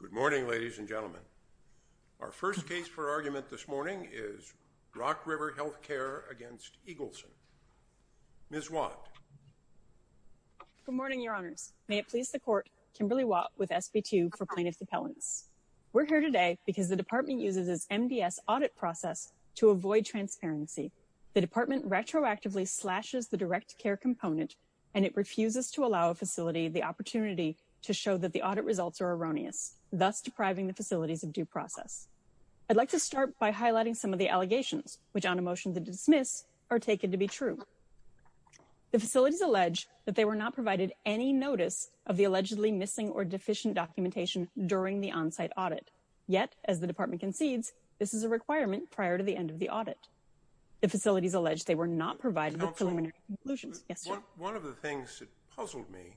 Good morning, ladies and gentlemen. Our first case for argument this morning is Rock River Health Care v. Eagleson. Ms. Watt. Good morning, your honors. May it please the court, Kimberly Watt with SB2 for plaintiff's appellants. We're here today because the department uses its MDS audit process to avoid transparency. The department retroactively slashes the direct care component and it refuses to allow a facility the opportunity to show that the audit results are erroneous, thus depriving the facilities of due process. I'd like to start by highlighting some of the allegations, which on a motion to dismiss are taken to be true. The facilities allege that they were not provided any notice of the allegedly missing or deficient documentation during the on-site audit. Yet, as the department concedes, this is a requirement prior to the end of the audit. The facilities allege they were not provided with preliminary conclusions. One of the things that puzzled me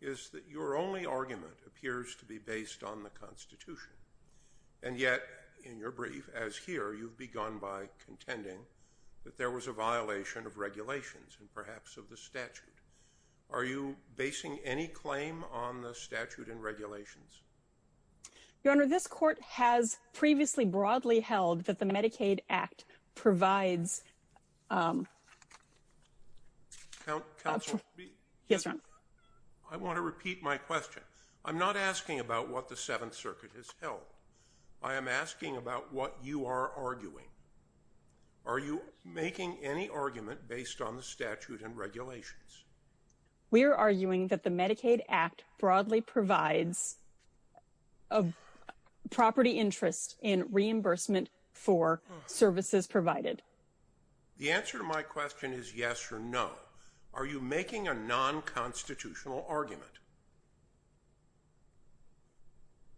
is that your only argument appears to be based on the Constitution. And yet, in your brief, as here, you've begun by contending that there was a violation of regulations and perhaps of the statute. Are you basing any claim on the statute and regulations? Your Honor, this court has previously broadly held that the Medicaid Act provides... Counsel? Yes, Your Honor. I want to repeat my question. I'm not asking about what the Seventh Circuit has held. I am asking about what you are arguing. Are you making any argument based on the statute and regulations? We are arguing that the Medicaid Act broadly provides property interest in reimbursement for services provided. The answer to my question is yes or no. Are you making a non-constitutional argument?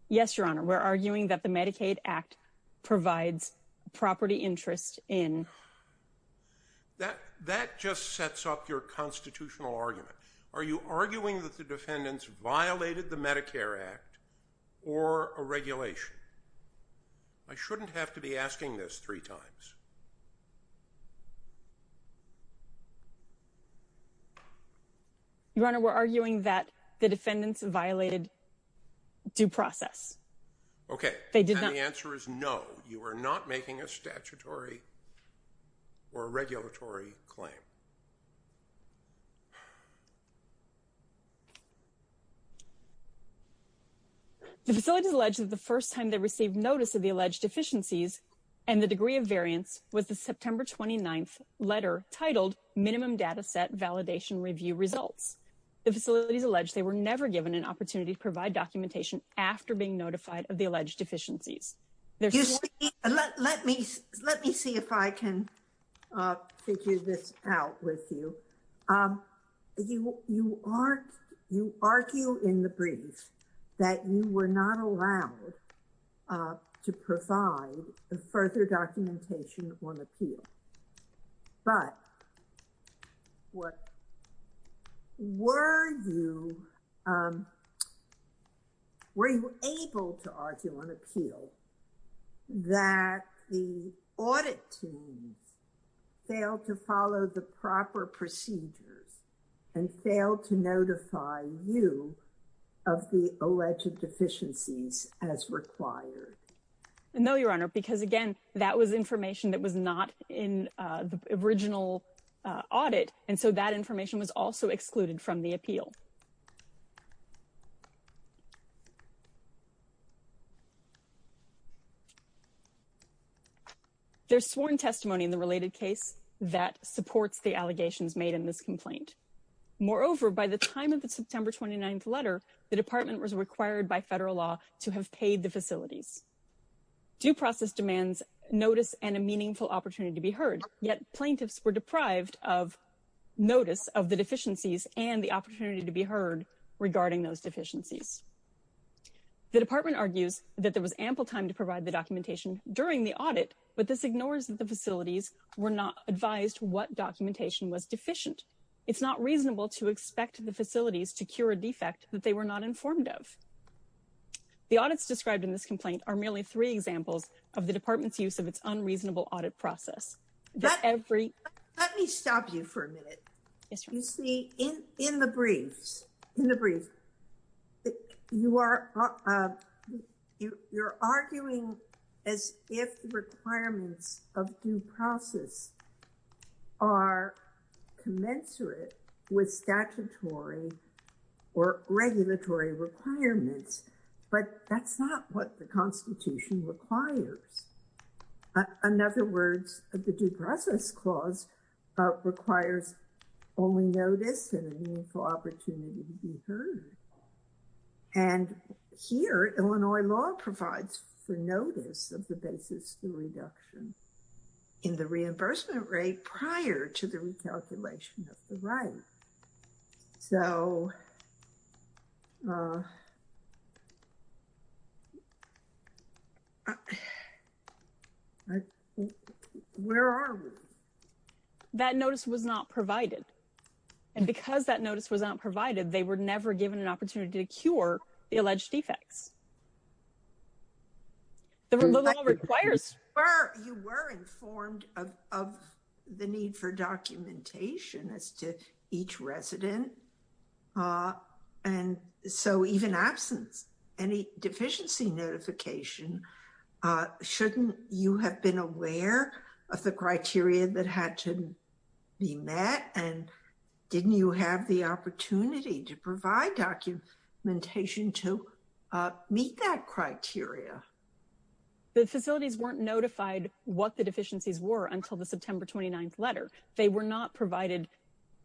Yes, Your Honor. We're arguing that the Medicaid Act provides property interest in... That just sets up your constitutional argument. Are you arguing that the defendants violated the Medicare Act or a regulation? I shouldn't have to be asking this three times. Your Honor, we're arguing that the defendants violated due process. Okay. And the answer is no. You are not making a statutory or regulatory claim. Let me see if I can figure this out with you. You argue in the brief that you were not allowed to provide further documentation on appeal. But were you able to argue on appeal that the audit teams failed to follow the proper procedures and failed to notify you of the alleged deficiencies as required? No, Your Honor, because again, that was information that was not in the original audit, and so that information was also excluded from the appeal. There's sworn testimony in the related case that supports the allegations made in this complaint. Moreover, by the time of the September 29th letter, the department was required by federal law to have paid the facilities. Due process demands notice and a meaningful opportunity to be heard, yet plaintiffs were deprived of notice of the deficiencies and the opportunity to be heard regarding those deficiencies. The department argues that there was ample time to provide the documentation during the audit, but this ignores that the facilities were not advised what documentation was deficient. It's not reasonable to expect the facilities to cure a defect that they were not informed of. The audits described in this complaint are merely three examples of the department's use of its unreasonable audit process. Let me stop you for a minute. You see, in the briefs, you're arguing as if the requirements of due process are commensurate with statutory or regulatory requirements, but that's not what the Constitution requires. In other words, the due process clause requires only notice and a meaningful opportunity to be heard. And here, Illinois law provides for notice of the basis for reduction in the reimbursement rate prior to the recalculation of the right. So, where are we? That notice was not provided. And because that notice was not provided, they were never given an opportunity to cure the alleged defects. The law requires... You were informed of the need for documentation as to each resident. And so, even absence, any deficiency notification, shouldn't you have been aware of the criteria that had to be met? And didn't you have the opportunity to provide documentation to meet that criteria? The facilities weren't notified what the deficiencies were until the September 29th letter. They were not provided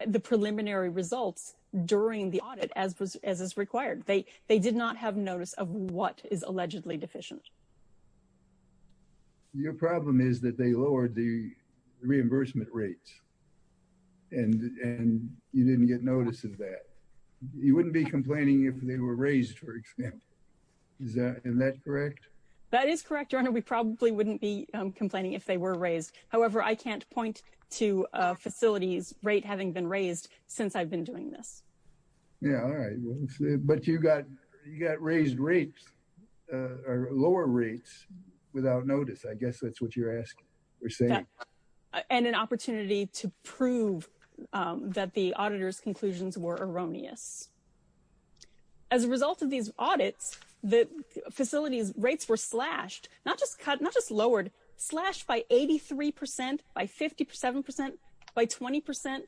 the preliminary results during the audit as is required. They did not have notice of what is allegedly deficient. Your problem is that they lowered the reimbursement rates and you didn't get notice of that. You wouldn't be complaining if they were raised, for example. Isn't that correct? That is correct, Your Honor. We probably wouldn't be complaining if they were raised. However, I can't point to a facility's rate having been raised since I've been doing this. Yeah, all right. But you got raised rates, lower rates, without notice. I guess that's what you're saying. And an opportunity to prove that the auditor's conclusions were erroneous. As a result of these audits, the facility's rates were slashed, not just cut, not just lowered, slashed by 83%, by 57%, by 20%.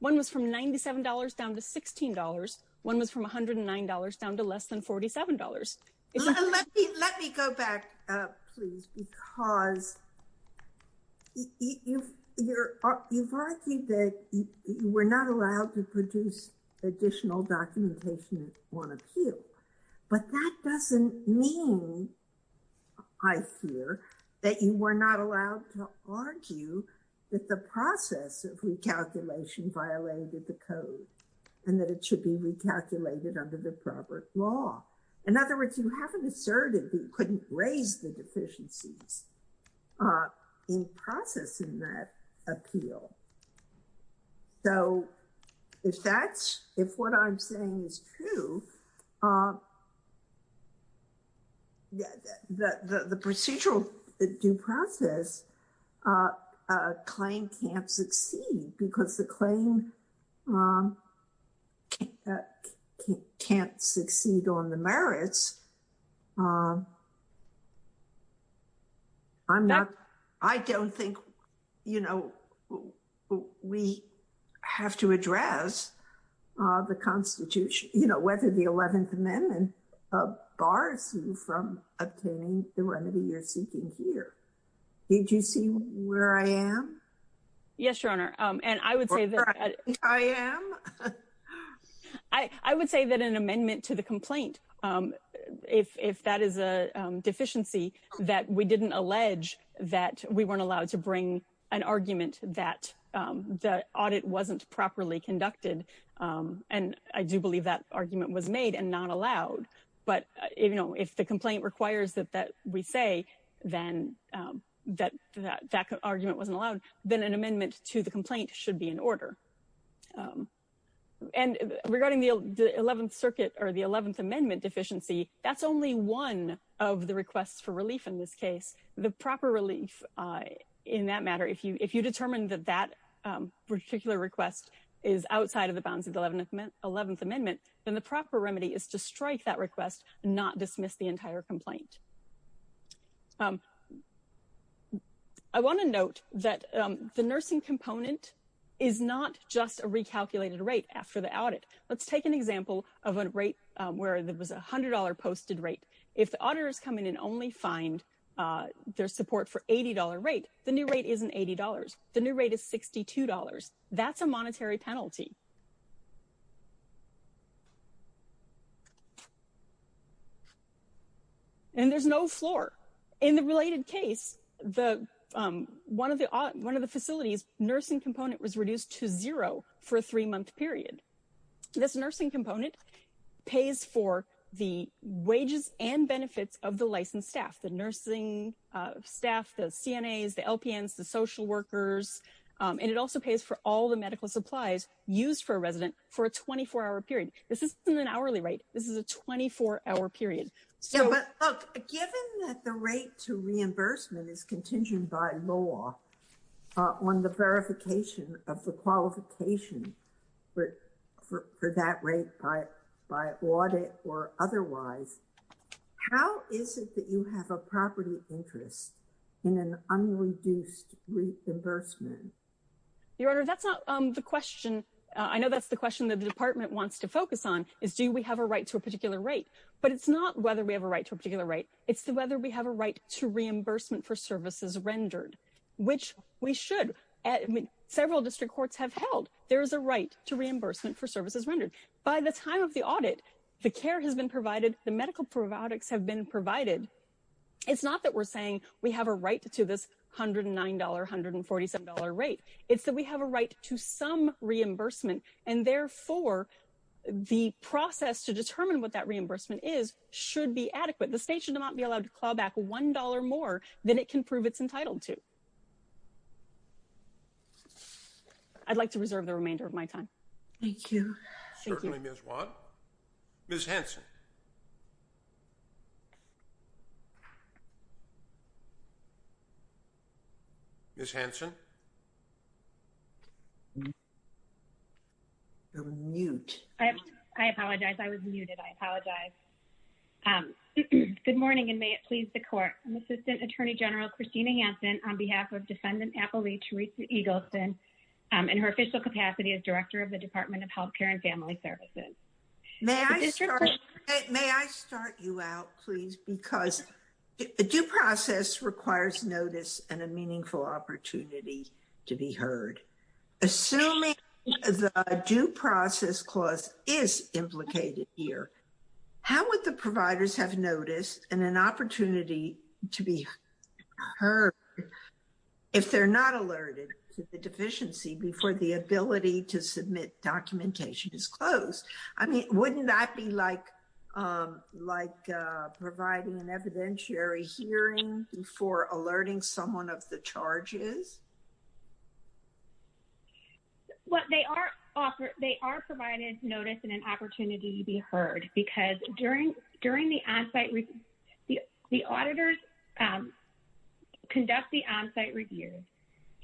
One was from $97 down to $16. One was from $109 down to less than $47. Let me go back, please, because you've argued that you were not allowed to produce additional documentation on appeal. But that doesn't mean, I fear, that you were not allowed to argue that the process of recalculation violated the code and that it should be recalculated under the proper law. In other words, you haven't asserted that you couldn't raise the deficiencies in processing that appeal. So, if what I'm saying is true, the procedural due process claim can't succeed because the claim can't succeed on the merits. I don't think we have to address the Constitution, whether the 11th Amendment bars you from obtaining the remedy you're seeking here. Did you see where I am? Yes, Your Honor. I am? I would say that an amendment to the complaint, if that is a deficiency, that we didn't allege that we weren't allowed to bring an argument that the audit wasn't properly conducted. And I do believe that argument was made and not allowed. But, you know, if the complaint requires that we say that that argument wasn't allowed, then an amendment to the complaint should be in order. And regarding the 11th Circuit or the 11th Amendment deficiency, that's only one of the requests for relief in this case. The proper relief in that matter, if you determine that that particular request is outside of the bounds of the 11th Amendment, then the proper remedy is to strike that request and not dismiss the entire complaint. I want to note that the nursing component is not just a recalculated rate after the audit. Let's take an example of a rate where there was $100 posted rate. If the auditors come in and only find their support for $80 rate, the new rate isn't $80. The new rate is $62. That's a monetary penalty. And there's no floor. In the related case, one of the facilities' nursing component was reduced to zero for a three-month period. This nursing component pays for the wages and benefits of the licensed staff, the nursing staff, the CNAs, the LPNs, the social workers. And it also pays for all the medical supplies used for a resident for a 24-hour period. This isn't an hourly rate. This is a 24-hour period. Given that the rate to reimbursement is contingent by law on the verification of the qualification for that rate by audit or otherwise, how is it that you have a property interest in an unreduced reimbursement? Your Honor, that's not the question. I know that's the question that the department wants to focus on is do we have a right to a particular rate. But it's not whether we have a right to a particular rate. It's whether we have a right to reimbursement for services rendered, which we should. Several district courts have held there is a right to reimbursement for services rendered. By the time of the audit, the care has been provided, the medical products have been provided. It's not that we're saying we have a right to this $109, $147 rate. It's that we have a right to some reimbursement. And therefore, the process to determine what that reimbursement is should be adequate. The state should not be allowed to claw back $1 more than it can prove it's entitled to. I'd like to reserve the remainder of my time. Thank you. Certainly, Ms. Watt. Ms. Hanson. Ms. Hanson. You're on mute. I apologize. I was muted. I apologize. Good morning, and may it please the court. I'm Assistant Attorney General Christina Hanson on behalf of Defendant Appellee Teresa Eagleston. In her official capacity as Director of the Department of Health Care and Family Services. May I start you out, please? Because a due process requires notice and a meaningful opportunity to be heard. Assuming the due process clause is implicated here, how would the providers have noticed and an opportunity to be heard if they're not alerted to the deficiency before the ability to submit documentation is closed? I mean, wouldn't that be like providing an evidentiary hearing before alerting someone of the charges? They are provided notice and an opportunity to be heard. Because during the onsite review, the auditors conduct the onsite review.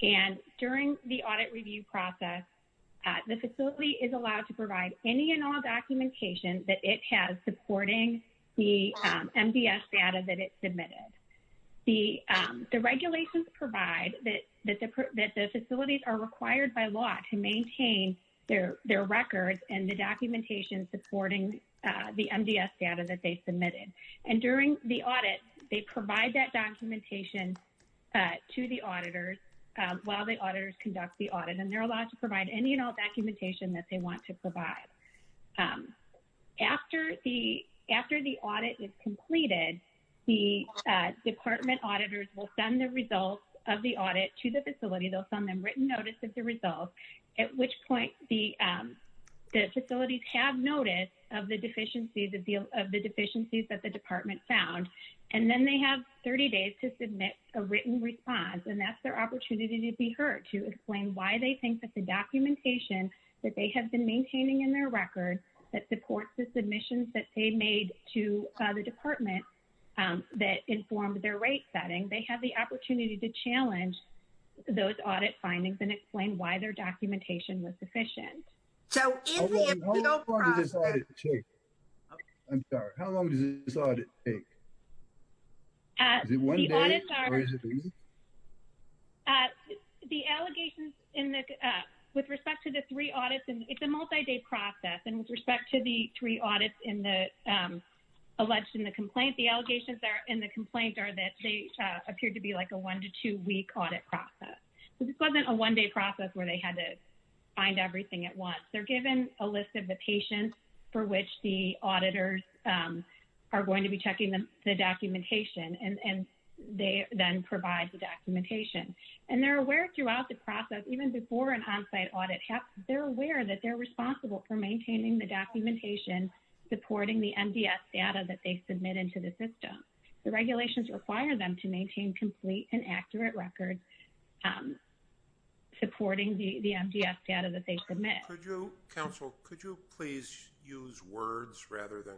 And during the audit review process, the facility is allowed to provide any and all documentation that it has supporting the MDS data that it submitted. The regulations provide that the facilities are required by law to maintain their records and the documentation supporting the MDS data that they submitted. And during the audit, they provide that documentation to the auditors while the auditors conduct the audit. And they're allowed to provide any and all documentation that they want to provide. After the audit is completed, the department auditors will send the results of the audit to the facility. They'll send them written notice of the results, at which point the facilities have notice of the deficiencies that the department found. And then they have 30 days to submit a written response. And that's their opportunity to be heard, to explain why they think that the documentation that they have been maintaining in their record that supports the submissions that they made to the department that informed their rate setting. They have the opportunity to challenge those audit findings and explain why their documentation was sufficient. How long does this audit take? I'm sorry. How long does this audit take? Is it one day? Or is it busy? The allegations in the – with respect to the three audits, it's a multi-day process. And with respect to the three audits in the – alleged in the complaint, the allegations in the complaint are that they appear to be like a one- to two-week audit process. This wasn't a one-day process where they had to find everything at once. They're given a list of the patients for which the auditors are going to be checking the documentation, and they then provide the documentation. And they're aware throughout the process, even before an onsite audit, they're aware that they're responsible for maintaining the documentation supporting the MDS data that they submitted to the system. The regulations require them to maintain complete and accurate records supporting the MDS data that they submit. Could you – counsel, could you please use words rather than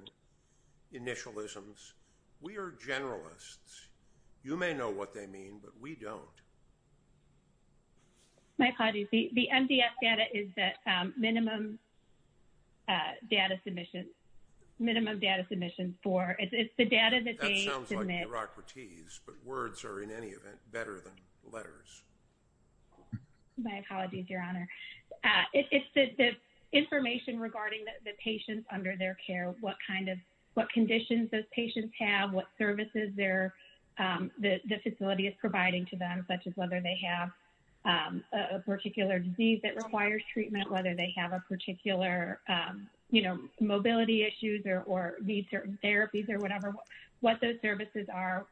initialisms? We are generalists. You may know what they mean, but we don't. My apologies. The MDS data is the minimum data submission – minimum data submission for – it's the data that they – It sounds like bureaucraties, but words are, in any event, better than letters. My apologies, Your Honor. It's the information regarding the patients under their care, what kind of – what conditions those patients have, what services they're – the facility is providing to them, such as whether they have a particular disease that requires treatment, whether they have a particular, you know, mobility issues or need certain therapies or whatever, what those services are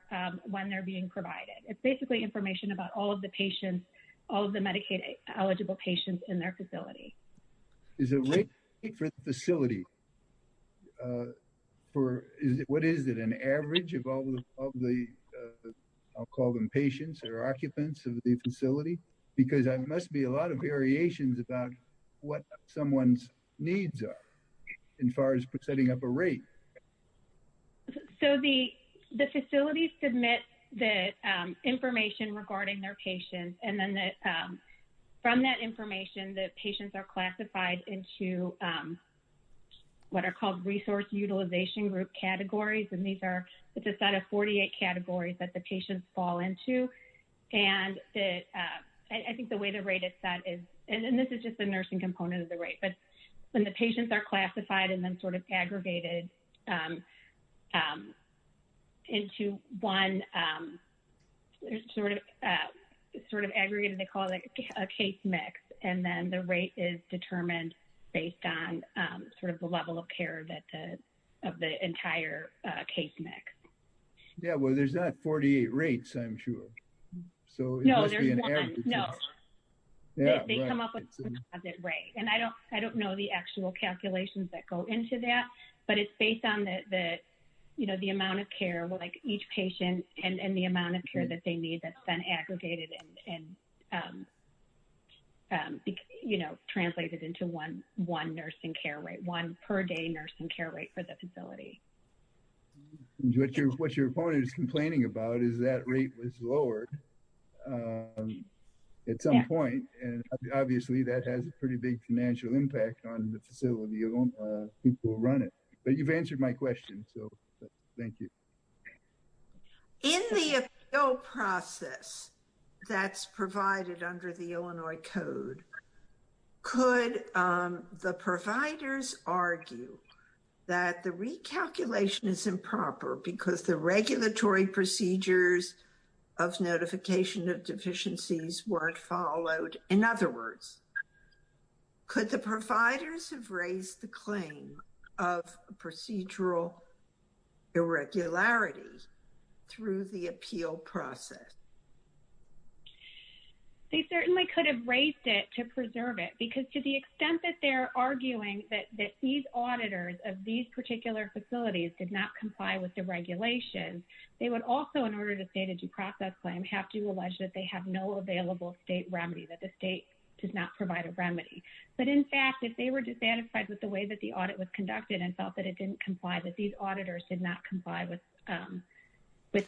when they're being provided. It's basically information about all of the patients, all of the Medicaid-eligible patients in their facility. Is the rate for the facility for – what is it, an average of all of the – I'll call them patients or occupants of the facility? Because there must be a lot of variations about what someone's needs are in far as setting up a rate. So, the facility submits the information regarding their patients, and then from that information, the patients are classified into what are called resource utilization group categories, and these are – it's a set of 48 categories that the patients fall into, and I think the way the rate is set is – and this is just the nursing component of the rate, but when the patients are classified and then sort of aggregated into one – sort of aggregated, they call it a case mix, and then the rate is determined based on sort of the level of care of the entire case mix. Yeah, well, there's not 48 rates, I'm sure. No, there's one. No. Yeah, right. They come up with a composite rate, and I don't know the actual calculations that go into that, but it's based on the amount of care, like each patient and the amount of care that they need that's been aggregated and translated into one nursing care rate, one per day nursing care rate for the facility. What your opponent is complaining about is that rate was lowered at some point, and obviously that has a pretty big financial impact on the facility, and people who run it. But you've answered my question, so thank you. In the appeal process that's provided under the Illinois Code, could the providers argue that the recalculation is improper because the regulatory procedures of notification of deficiencies weren't followed? In other words, could the providers have raised the claim of procedural irregularity through the appeal process? They certainly could have raised it to preserve it, because to the extent that they're arguing that these auditors of these particular facilities did not comply with the regulations, they would also, in order to state a due process claim, have to allege that they have no available state remedy, that the state does not provide a remedy. But in fact, if they were dissatisfied with the way that the audit was conducted and felt that it didn't comply, that these auditors did not comply with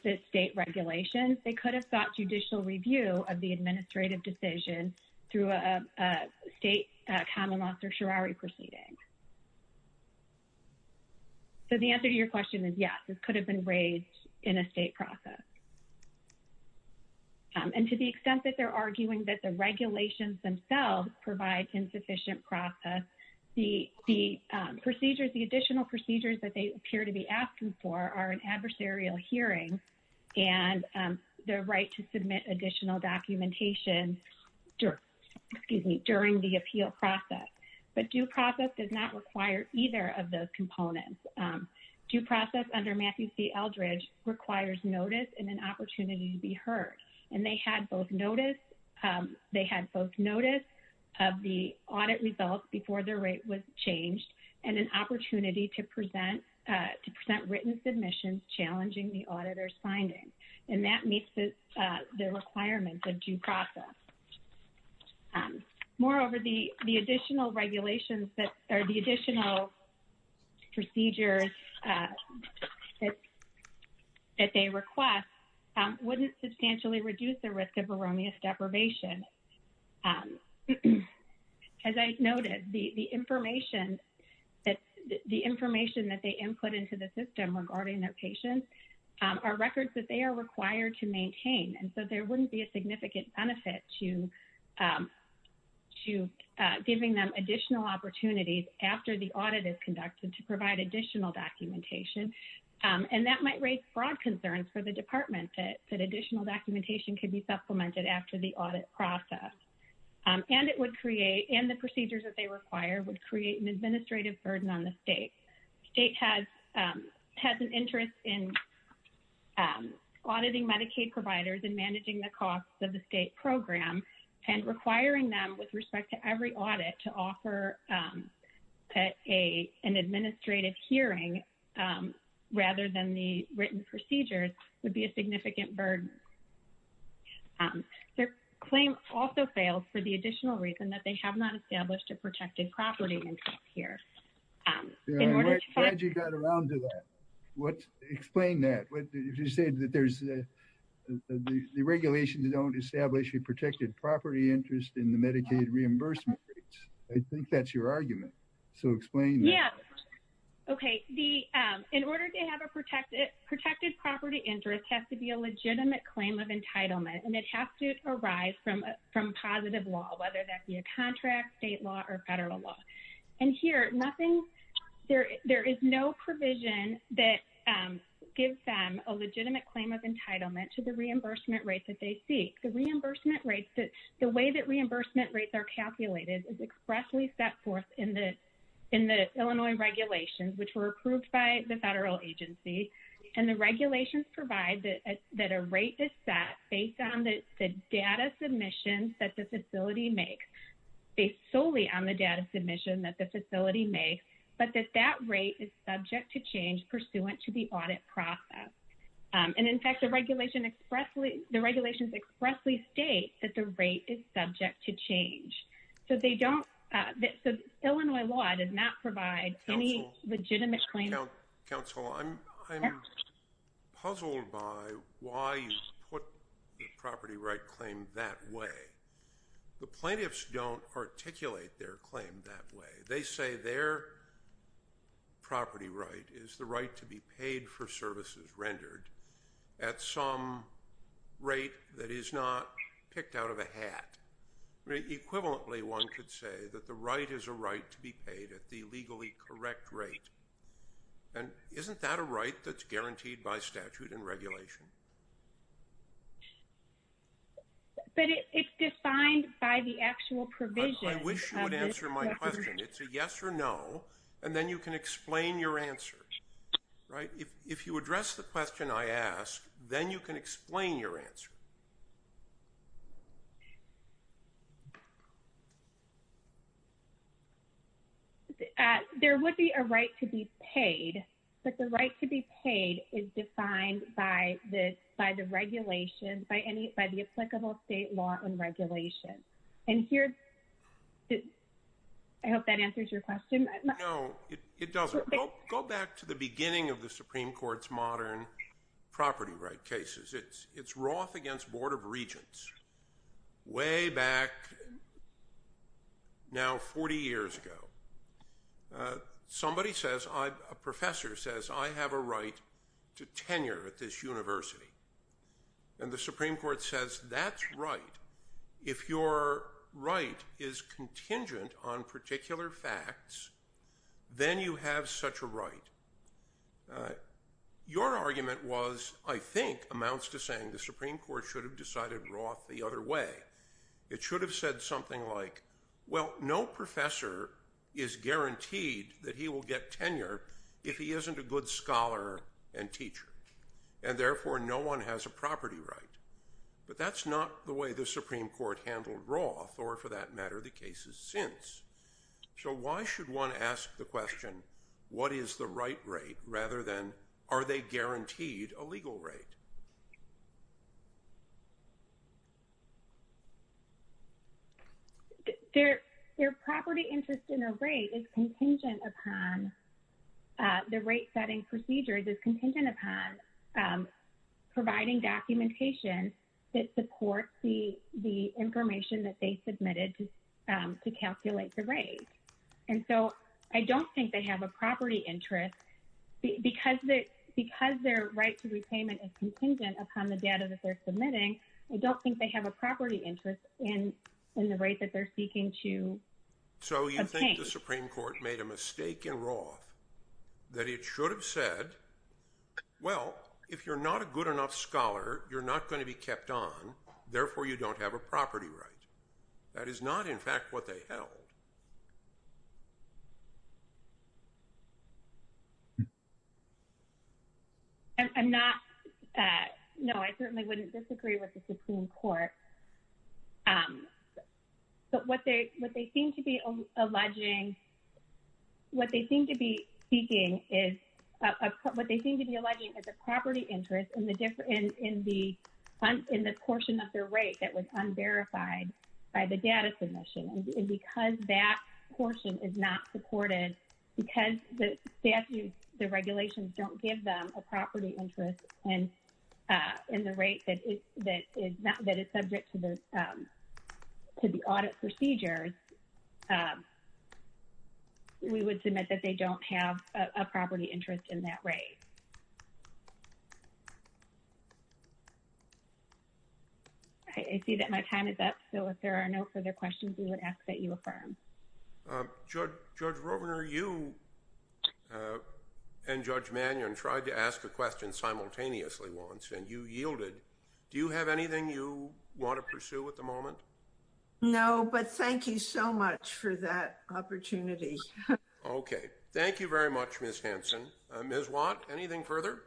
the state regulations, they could have sought judicial review of the administrative decision through a state common law certiorari proceeding. So the answer to your question is yes, it could have been raised in a state process. And to the extent that they're arguing that the regulations themselves provide insufficient process, the procedures, the additional procedures that they appear to be asking for are an adversarial hearing and the right to submit additional documentation during the appeal process. But due process does not require either of those components. Due process under Matthew C. Eldridge requires notice and an opportunity to be heard. And they had both notice of the audit results before their rate was changed and an opportunity to present written submissions challenging the auditor's finding. And that meets the requirements of due process. Moreover, the additional regulations that are the additional procedures that they request wouldn't substantially reduce the risk of erroneous deprivation. As I noted, the information that the information that they input into the system regarding their patients are records that they are required to maintain. And so there wouldn't be a significant benefit to giving them additional opportunities after the audit is conducted to provide additional documentation. And that might raise broad concerns for the department that additional documentation could be supplemented after the audit process. And it would create, and the procedures that they require would create an administrative burden on the state. The state has an interest in auditing Medicaid providers and managing the costs of the state program and requiring them with respect to every audit to offer an administrative hearing rather than the written procedures would be a significant burden. Their claim also fails for the additional reason that they have not established a protected property interest here. I'm glad you got around to that. Explain that. You said that the regulations don't establish a protected property interest in the Medicaid reimbursement rates. I think that's your argument. So explain that. Okay. In order to have a protected property interest has to be a legitimate claim of entitlement, and it has to arise from positive law, whether that be a contract, state law, or federal law. And here, there is no provision that gives them a legitimate claim of entitlement to the reimbursement rates that they seek. The way that reimbursement rates are calculated is expressly set forth in the Illinois regulations, which were approved by the federal agency. And the regulations provide that a rate is set based on the data submission that the facility makes, based solely on the data submission that the facility makes, but that that rate is subject to change pursuant to the audit process. And, in fact, the regulations expressly state that the rate is subject to change. So Illinois law does not provide any legitimate claim. Counsel, I'm puzzled by why you put the property right claim that way. The plaintiffs don't articulate their claim that way. They say their property right is the right to be paid for services rendered at some rate that is not picked out of a hat. Equivalently, one could say that the right is a right to be paid at the legally correct rate. And isn't that a right that's guaranteed by statute and regulation? But it's defined by the actual provision. I wish you would answer my question. It's a yes or no, and then you can explain your answer. Right? If you address the question I ask, then you can explain your answer. There would be a right to be paid, but the right to be paid is defined by the regulation, by the applicable state law and regulation. And here, I hope that answers your question. No, it doesn't. Go back to the beginning of the Supreme Court's modern property right cases. It's Roth against Board of Regents way back now 40 years ago. Somebody says, a professor says, I have a right to tenure at this university. And the Supreme Court says, that's right. If your right is contingent on particular facts, then you have such a right. Your argument was, I think, amounts to saying the Supreme Court should have decided Roth the other way. It should have said something like, well, no professor is guaranteed that he will get tenure if he isn't a good scholar and teacher. And therefore, no one has a property right. But that's not the way the Supreme Court handled Roth or, for that matter, the cases since. So why should one ask the question, what is the right rate, rather than are they guaranteed a legal rate? Their property interest in a rate is contingent upon the rate setting procedures is contingent upon providing documentation that supports the information that they submitted to calculate the rate. And so I don't think they have a property interest. Because their right to repayment is contingent upon the data that they're submitting, I don't think they have a property interest in the rate that they're seeking to obtain. So you think the Supreme Court made a mistake in Roth that it should have said, well, if you're not a good enough scholar, you're not going to be kept on. Therefore, you don't have a property right. That is not, in fact, what they held. No, I certainly wouldn't disagree with the Supreme Court. But what they seem to be alleging, what they seem to be seeking is, what they seem to be alleging is a property interest in the portion of their rate that was unverified by the data submission. And because that portion is not supported, because the statutes, the regulations don't give them a property interest in the rate that is subject to the audit procedures, we would submit that they don't have a property interest in that rate. I see that my time is up, so if there are no further questions, we would ask that you affirm. Judge Rovner, you and Judge Mannion tried to ask a question simultaneously once, and you yielded. Do you have anything you want to pursue at the moment? No, but thank you so much for that opportunity. Okay. Thank you very much, Ms. Hanson. Ms. Watt, anything further?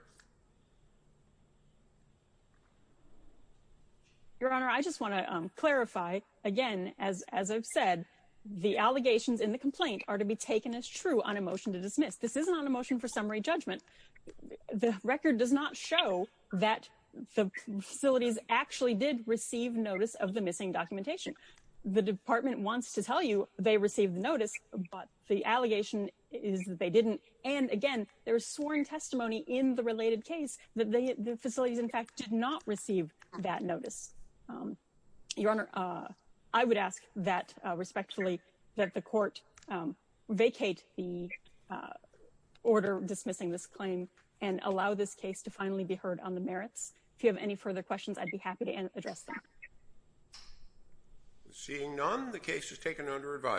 Your Honor, I just want to clarify, again, as I've said, the allegations in the complaint are to be taken as true on a motion to dismiss. This isn't on a motion for summary judgment. The record does not show that the facilities actually did receive notice of the missing documentation. The department wants to tell you they received the notice, but the allegation is that they didn't. And, again, there is sworn testimony in the related case that the facilities, in fact, did not receive that notice. Your Honor, I would ask that respectfully that the court vacate the order dismissing this claim and allow this case to finally be heard on the merits. If you have any further questions, I'd be happy to address them. Seeing none, the case is taken under review.